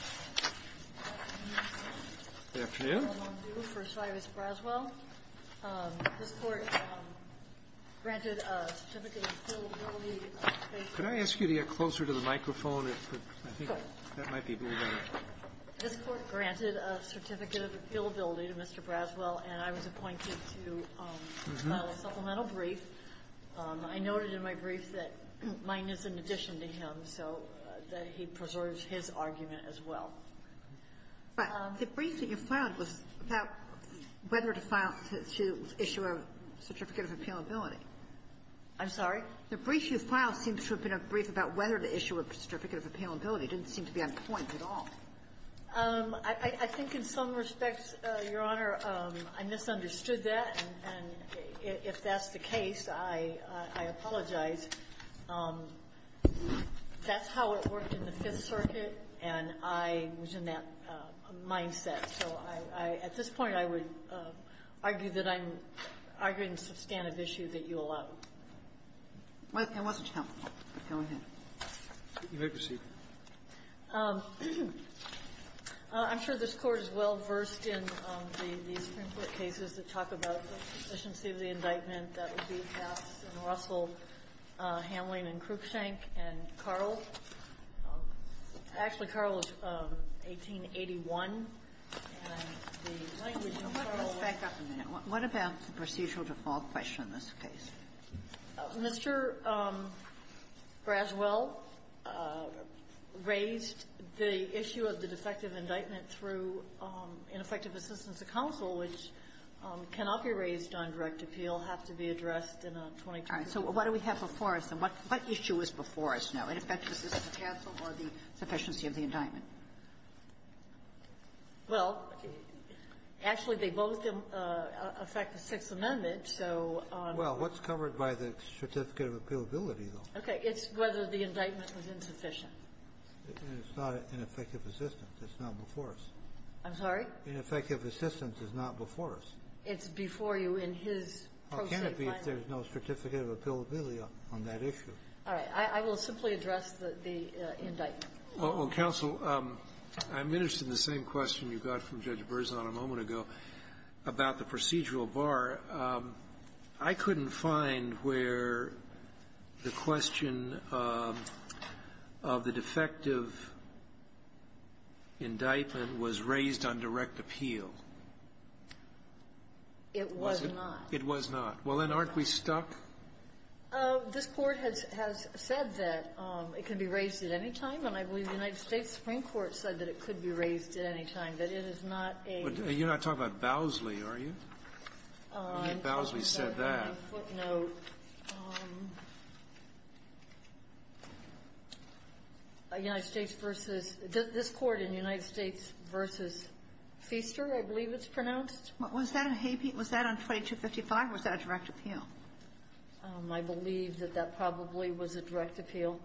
and I was appointed to file a supplemental brief. I noted in my brief that mine is in there as well. But the brief that you filed was about whether to file to issue a certificate of appealability. I'm sorry? The brief you filed seems to have been a brief about whether to issue a certificate of appealability. It didn't seem to be on point at all. I think in some respects, Your Honor, I misunderstood that, and if that's the case, I apologize. That's how it worked in the Fifth Circuit, and I was in that mindset. So I at this point, I would argue that I'm arguing a substantive issue that you allowed. I'm sure this Court is well-versed in the Supreme Court cases that talk about the Russell, Hamlin, and Cruikshank, and Carl. Actually, Carl is 1881, and the language of Carl was the same. What about the procedural default question in this case? Mr. Braswell raised the issue of the defective indictment through ineffective assistance of counsel, which cannot be raised on direct appeal, have to be addressed in a 2022 case. So what do we have before us, and what issue is before us now? Ineffective assistance counsel or the sufficiency of the indictment? Well, actually, they both affect the Sixth Amendment, so on the one hand, it's the indictment. Well, what's covered by the certificate of appealability, though? Okay. It's whether the indictment was insufficient. It's not ineffective assistance. It's not before us. Ineffective assistance is not before us. It's before you in his pro se final. Well, can it be if there's no certificate of appealability on that issue? All right. I will simply address the indictment. Well, counsel, I'm interested in the same question you got from Judge Berzon a moment ago about the procedural bar. I couldn't find where the question of the defective indictment was raised on direct appeal. It was not. It was not. Well, then, aren't we stuck? This Court has said that it can be raised at any time, and I believe the United States Supreme Court said that it could be raised at any time, that it is not a ---- You're not talking about Bowsley, are you? Bowsley said that. On a footnote, United States v. ---- this Court in United States v. Feaster, I believe it's pronounced. Was that a habeas? Was that on 2255? Was that a direct appeal? I believe that that probably was a direct appeal.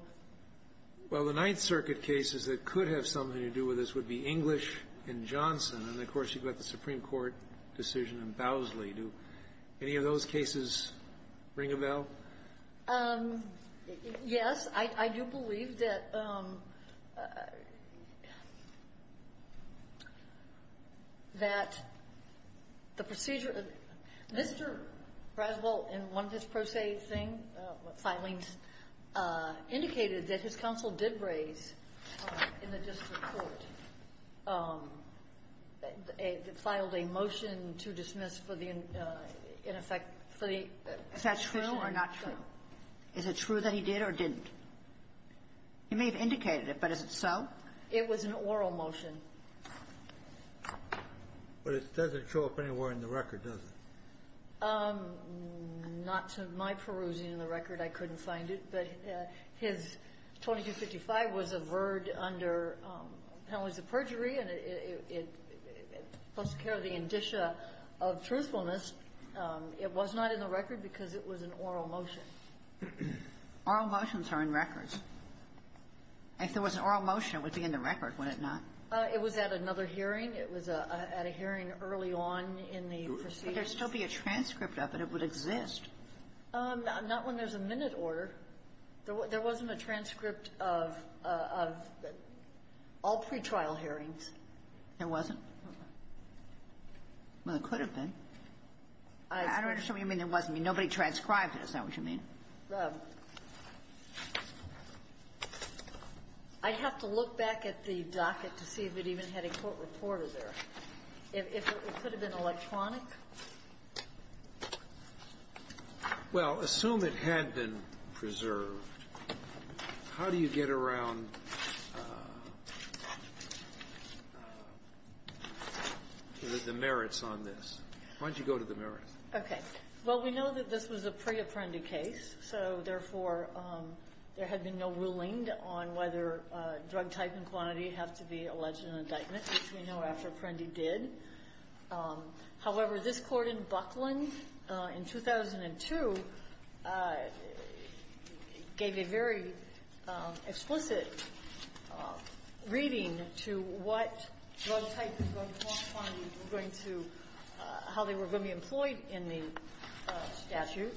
Well, the Ninth Circuit cases that could have something to do with this would be English and Johnson, and, of course, you've got the Supreme Court decision on Bowsley. Do any of those cases ring a bell? Yes. I do believe that the procedure ---- Mr. Braswell, in one of his pro se thing, filings, indicated that his counsel did raise in the district court, filed a motion to dismiss for the, in effect, for the ---- Is that true or not true? Is it true that he did or didn't? He may have indicated it, but is it so? It was an oral motion. But it doesn't show up anywhere in the record, does it? Not to my perusing in the record. I couldn't find it. But his 2255 was a verd under penalties of perjury, and it took care of the indicia of truthfulness. It was not in the record because it was an oral motion. Oral motions are in records. If there was an oral motion, it would be in the record, would it not? It was at another hearing. It was at a hearing early on in the proceedings. But there would still be a transcript of it. It would exist. Not when there's a minute order. There wasn't a transcript of all pretrial hearings. There wasn't? No. Well, there could have been. I don't understand what you mean there wasn't. Nobody transcribed it, is that what you mean? I'd have to look back at the docket to see if it even had a court reporter there. If it could have been electronic. Well, assume it had been preserved, how do you get around the merits on this? Why don't you go to the merits? Okay. Well, we know that this was a pre-Apprendi case, so therefore, there had been no ruling on whether drug type and quantity have to be alleged in an indictment, which we know after Apprendi did. However, this court in Buckland in 2002 gave a very explicit indication that it was a reading to what drug type and drug quantity were going to be employed in the statute,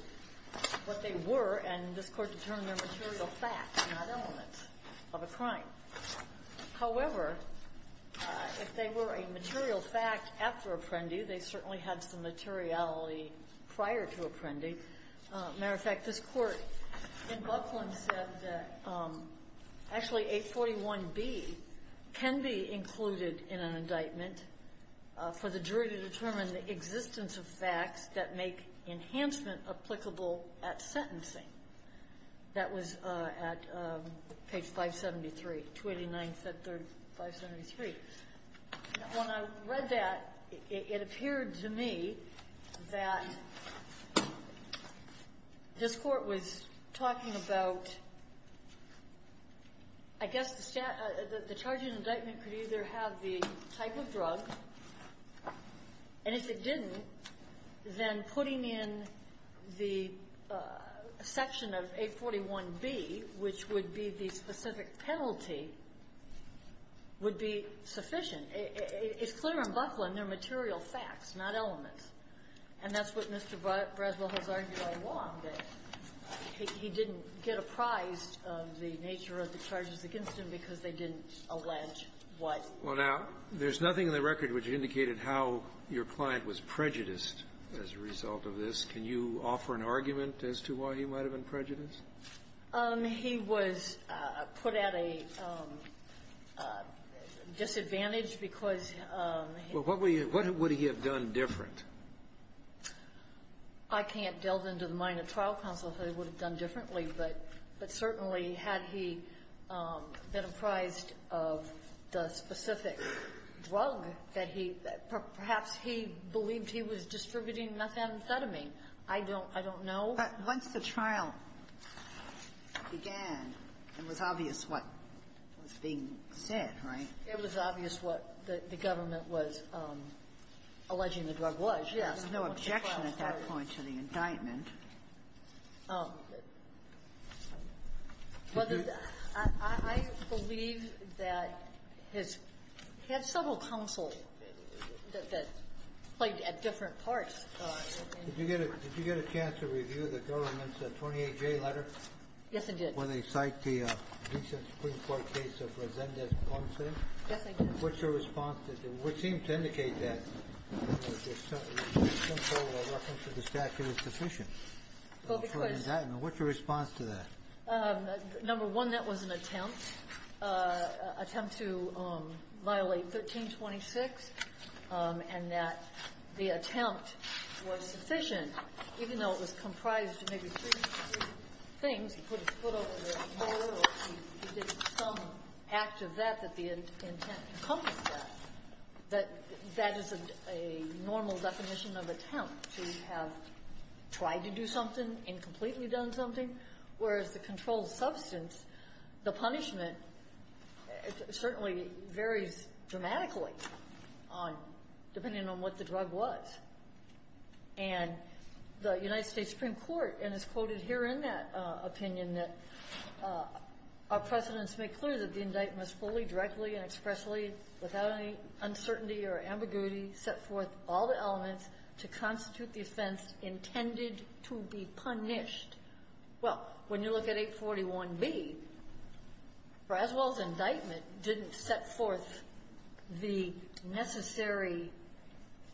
what they were, and this court determined they were material facts, not elements of a crime. However, if they were a material fact after Apprendi, they certainly had some materiality prior to Apprendi. As a matter of fact, this court in Buckland said that actually 841B can be included in an indictment for the jury to determine the existence of facts that make enhancement applicable at sentencing. That was at page 573, 289, 573. When I read that, it appeared to me that this court was talking about, I guess, the statute the charge in indictment could either have the type of drug, and if it didn't, then putting in the section of 841B, which would be the specific penalty, would be sufficient. It's clear in Buckland they're material facts, not elements. And that's what Mr. Bradwell has argued all along, that he didn't get apprised of the nature of the charges against him because they didn't allege what. Well, now, there's nothing in the record which indicated how your client was prejudiced as a result of this. Can you offer an argument as to why he might have been prejudiced? He was put at a disadvantage because he was. Well, what would he have done different? I can't delve into the mind of trial counsel if they would have done differently. But certainly, had he been apprised of the specific drug that he – perhaps he believed he was distributing methamphetamine. I don't know. But once the trial began, it was obvious what was being said, right? It was obvious what the government was alleging the drug was. Yes. There was no objection at that point to the indictment. I believe that his – he had several counsel that played at different parts. Did you get a chance to review the government's 28-J letter? Yes, I did. When they cite the recent Supreme Court case of Resendez-Poncin? Yes, I did. What's your response to that? It would seem to indicate that the simple reference to the statute is sufficient. Well, because – What's your response to that? Number one, that was an attempt, an attempt to violate 1326, and that the attempt was sufficient, even though it was comprised of maybe three things. He put his foot over the door, or he did some act of that that the intent encompassed that. That that is a normal definition of attempt, to have tried to do something, incompletely done something, whereas the controlled substance, the punishment certainly varies dramatically on – depending on what the drug was. And the United States Supreme Court, and it's quoted here in that opinion, that our precedents make clear that the indictment was fully, directly, and expressly, without any uncertainty or ambiguity, set forth all the elements to constitute the offense intended to be punished. Well, when you look at 841B, Braswell's indictment didn't set forth the necessary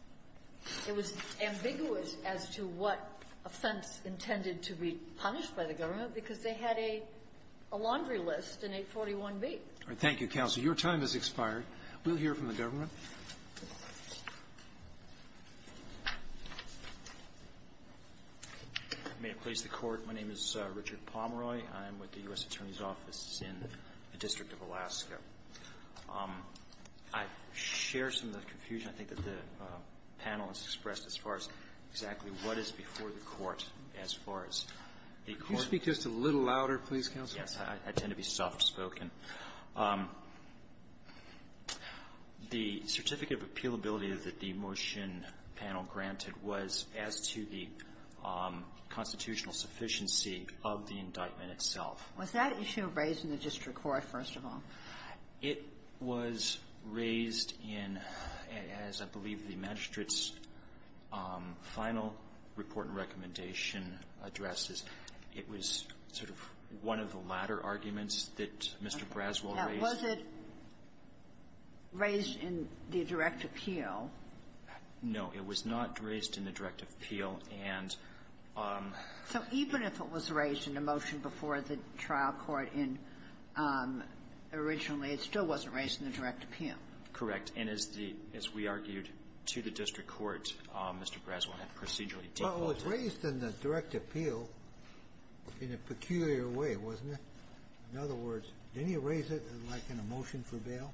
– it was ambiguous as to what offense intended to be punished by the government because they had a laundry list in 841B. All right. Thank you, Counsel. Your time has expired. We'll hear from the government. May it please the Court, my name is Richard Pomeroy. I'm with the U.S. Attorney's Office in the District of Alaska. I share some of the confusion, I think, that the panel has expressed as far as exactly what is before the Court as far as the Court's – Can you speak just a little louder, please, Counsel? Yes. I tend to be soft-spoken. The Certificate of Appealability that the motion panel granted was as to the constitutional sufficiency of the indictment itself. Was that issue raised in the district court, first of all? It was raised in, as I believe the magistrate's final report and recommendation addressed, it was sort of one of the latter arguments that Mr. Braswell raised. Now, was it raised in the direct appeal? No. It was not raised in the direct appeal. And so even if it was raised in the motion before the trial court in originally, it still wasn't raised in the direct appeal. Correct. And as the – as we argued to the district court, Mr. Braswell had procedurally Well, it was raised in the direct appeal in a peculiar way, wasn't it? In other words, didn't he raise it in like in a motion for bail?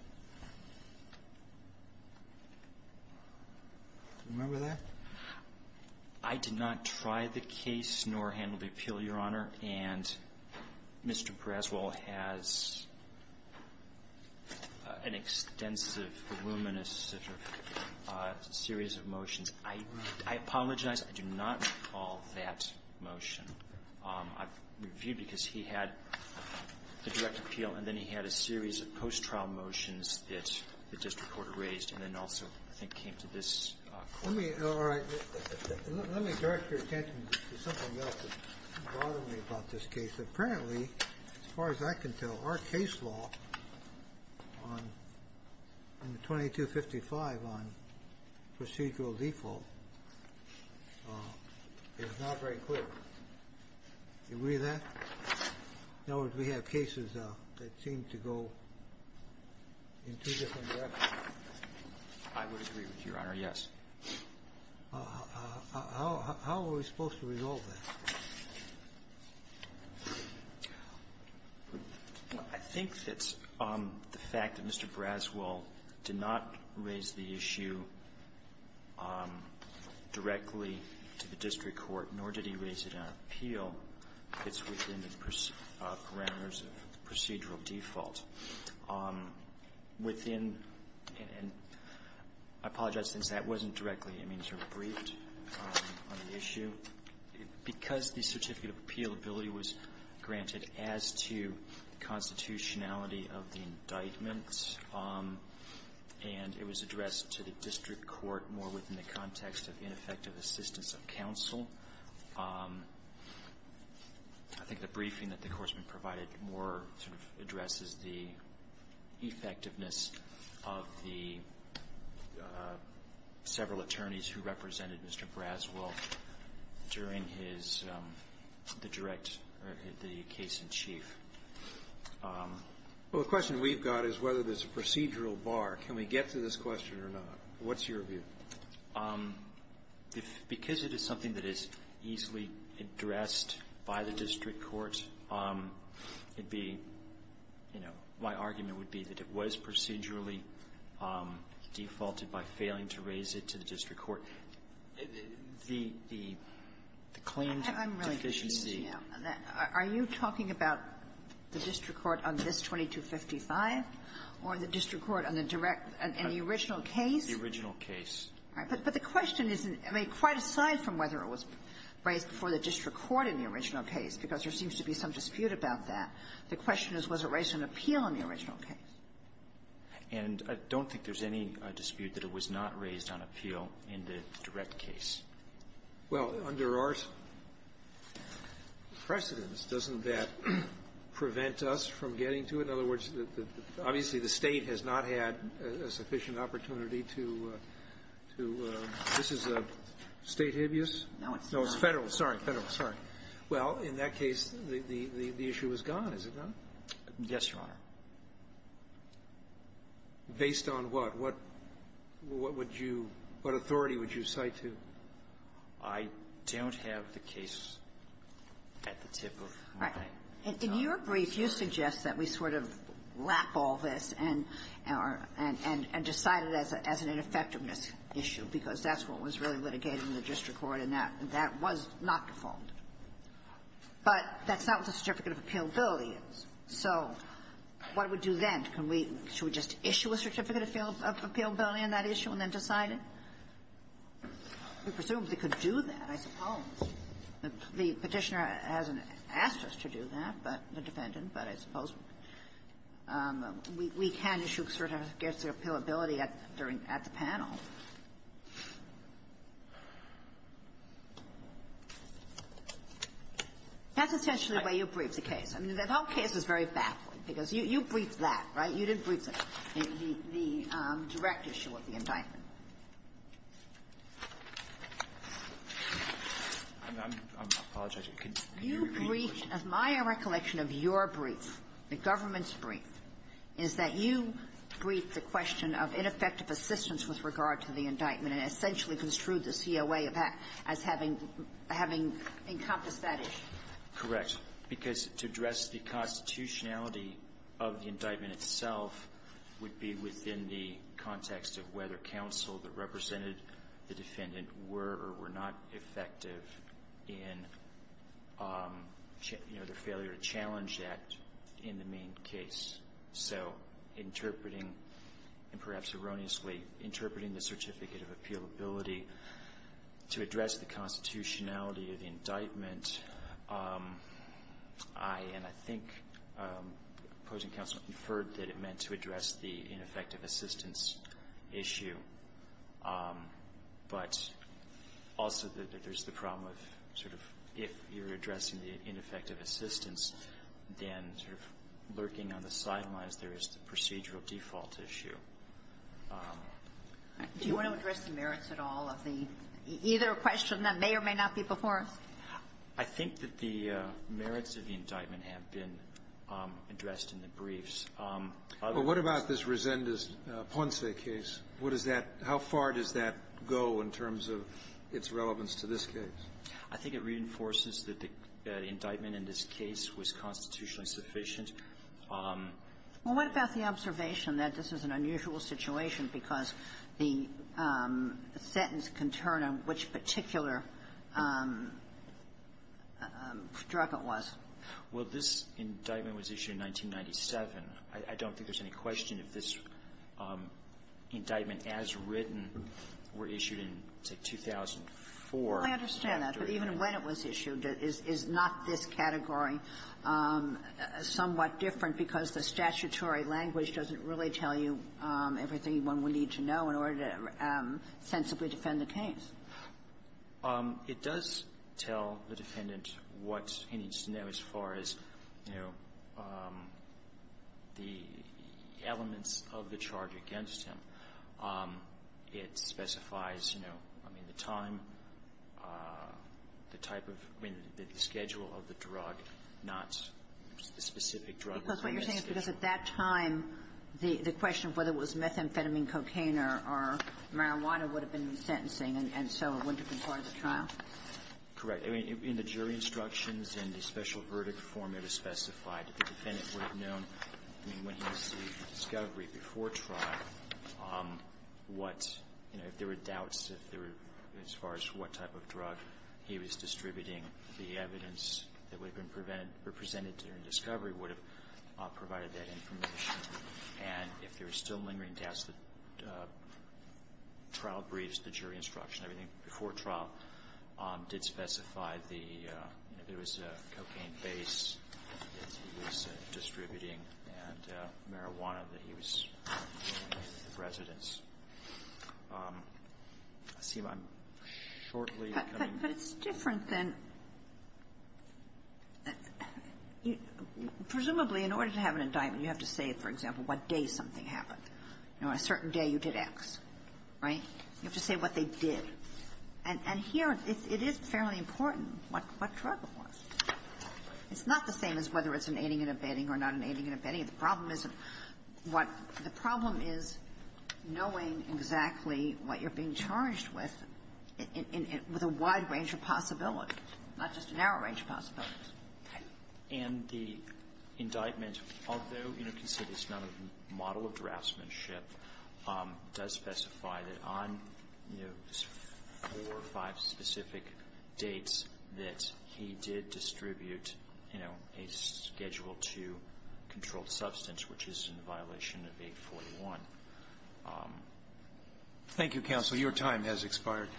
Remember that? I did not try the case nor handle the appeal, Your Honor. And Mr. Braswell has an extensive, voluminous series of motions. I apologize. I do not recall that motion. I've reviewed because he had the direct appeal and then he had a series of post-trial motions that the district court raised and then also I think came to this court. Let me direct your attention to something else that's bothering me about this case. Apparently, as far as I can tell, our case law in the 2255 on procedural default is not very clear. Do you agree with that? In other words, we have cases that seem to go in two different directions. I would agree with you, Your Honor, yes. How are we supposed to resolve that? I think that the fact that Mr. Braswell did not raise the issue directly to the district court, nor did he raise it in an appeal, fits within the parameters of procedural default. Within and I apologize, since that wasn't directly, I mean, sort of briefed on the issue. Because the certificate of appealability was granted as to the constitutionality of the indictment, and it was addressed to the district court more within the context of ineffective assistance of counsel, I think the briefing that the Courtsman provided more sort of addresses the effectiveness of the several attorneys who represented Mr. Braswell during his, the direct, or the case in chief. Well, the question we've got is whether there's a procedural bar. Can we get to this question or not? What's your view? Because it is something that is easily addressed by the district court, it'd be, you know, my argument would be that it was procedurally defaulted by failing to raise it to the district court. The claimed deficiency of that are you talking about the district court on this 2255, or the district court on the direct, on the original case? The original case. All right. But the question is, I mean, quite aside from whether it was raised before the district court in the original case, because there seems to be some dispute about that, the question is, was it raised in an appeal in the original case? And I don't think there's any dispute that it was not raised on appeal in the direct case. Well, under our precedence, doesn't that prevent us from getting to it? In other words, obviously, the State has not had a sufficient opportunity to do this. Is the State hibious? No, it's federal. No, it's federal. Sorry, federal. Sorry. Well, in that case, the issue is gone, is it not? Yes, Your Honor. Based on what? What would you – what authority would you cite to? I don't have the case at the tip of my pen. Right. In your brief, you suggest that we sort of wrap all this and – and decide it as an ineffectiveness issue, because that's what was really litigated in the district court, and that was not default. But that's not what the certificate of appealability is. So what would you then? Can we – should we just issue a certificate of appealability on that issue and then decide it? We presumably could do that, I suppose. The Petitioner hasn't asked us to do that, but – the defendant, but I suppose we can issue a certificate of appealability at – during – at the panel. That's essentially the way you briefed the case. I mean, the whole case is very backward, because you – you briefed that, right? You didn't brief the – the direct issue of the indictment. I'm – I'm – I apologize. Can you repeat the question? You briefed – my recollection of your brief, the government's brief, is that you referred to the indictment and essentially construed the COA as having – having encompassed that issue. Correct. Because to address the constitutionality of the indictment itself would be within the context of whether counsel that represented the defendant were or were not effective in, you know, their failure to challenge that in the main case. So interpreting – and perhaps erroneously interpreting the certificate of appealability to address the constitutionality of the indictment, I – and I think opposing counsel inferred that it meant to address the ineffective assistance issue, but also that there's the problem of sort of if you're addressing the case, there is the procedural default issue. Do you want to address the merits at all of the – either a question that may or may not be before us? I think that the merits of the indictment have been addressed in the briefs. But what about this Resendez-Ponce case? What does that – how far does that go in terms of its relevance to this case? I think it reinforces that the indictment in this case was constitutionally insufficient. Well, what about the observation that this is an unusual situation because the sentence can turn on which particular drug it was? Well, this indictment was issued in 1997. I don't think there's any question if this indictment as written were issued in, say, 2004. I understand that. But even when it was issued, is not this category somewhat different because the statutory language doesn't really tell you everything one would need to know in order to sensibly defend the case? It does tell the defendant what he needs to know as far as, you know, the elements of the charge against him. It specifies, you know, I mean, the time, the type of – I mean, the schedule of the drug, not the specific drug. Because what you're saying is because at that time, the question of whether it was methamphetamine, cocaine, or marijuana would have been sentencing, and so it wouldn't have been part of the trial? Correct. I mean, in the jury instructions and the special verdict form, it was specified that the defendant would have known, I mean, when he received the discovery before trial, what, you know, if there were doubts as far as what type of drug he was distributing, the evidence that would have been presented during discovery would have provided that information. And if there were still lingering doubts, the trial briefs, the jury instruction, everything before trial did specify the, you know, if it was cocaine-based that he was distributing and marijuana that he was giving to the residents. I seem I'm shortly becoming – But it's different than – presumably, in order to have an indictment, you have to say, for example, what day something happened. You know, on a certain day, you did X, right? You have to say what they did. And here, it is fairly important what drug it was. It's not the same as whether it's an aiding and abetting or not an aiding and abetting. The problem isn't what – the problem is knowing exactly what you're being charged with with a wide range of possibilities, not just a narrow range of possibilities. And the indictment, although, you know, considered it's not a model of draftsmanship, does specify that on, you know, four or five specific dates that he did distribute, you know, a Schedule II controlled substance, which is in violation of 841. Thank you, counsel. Your time has expired.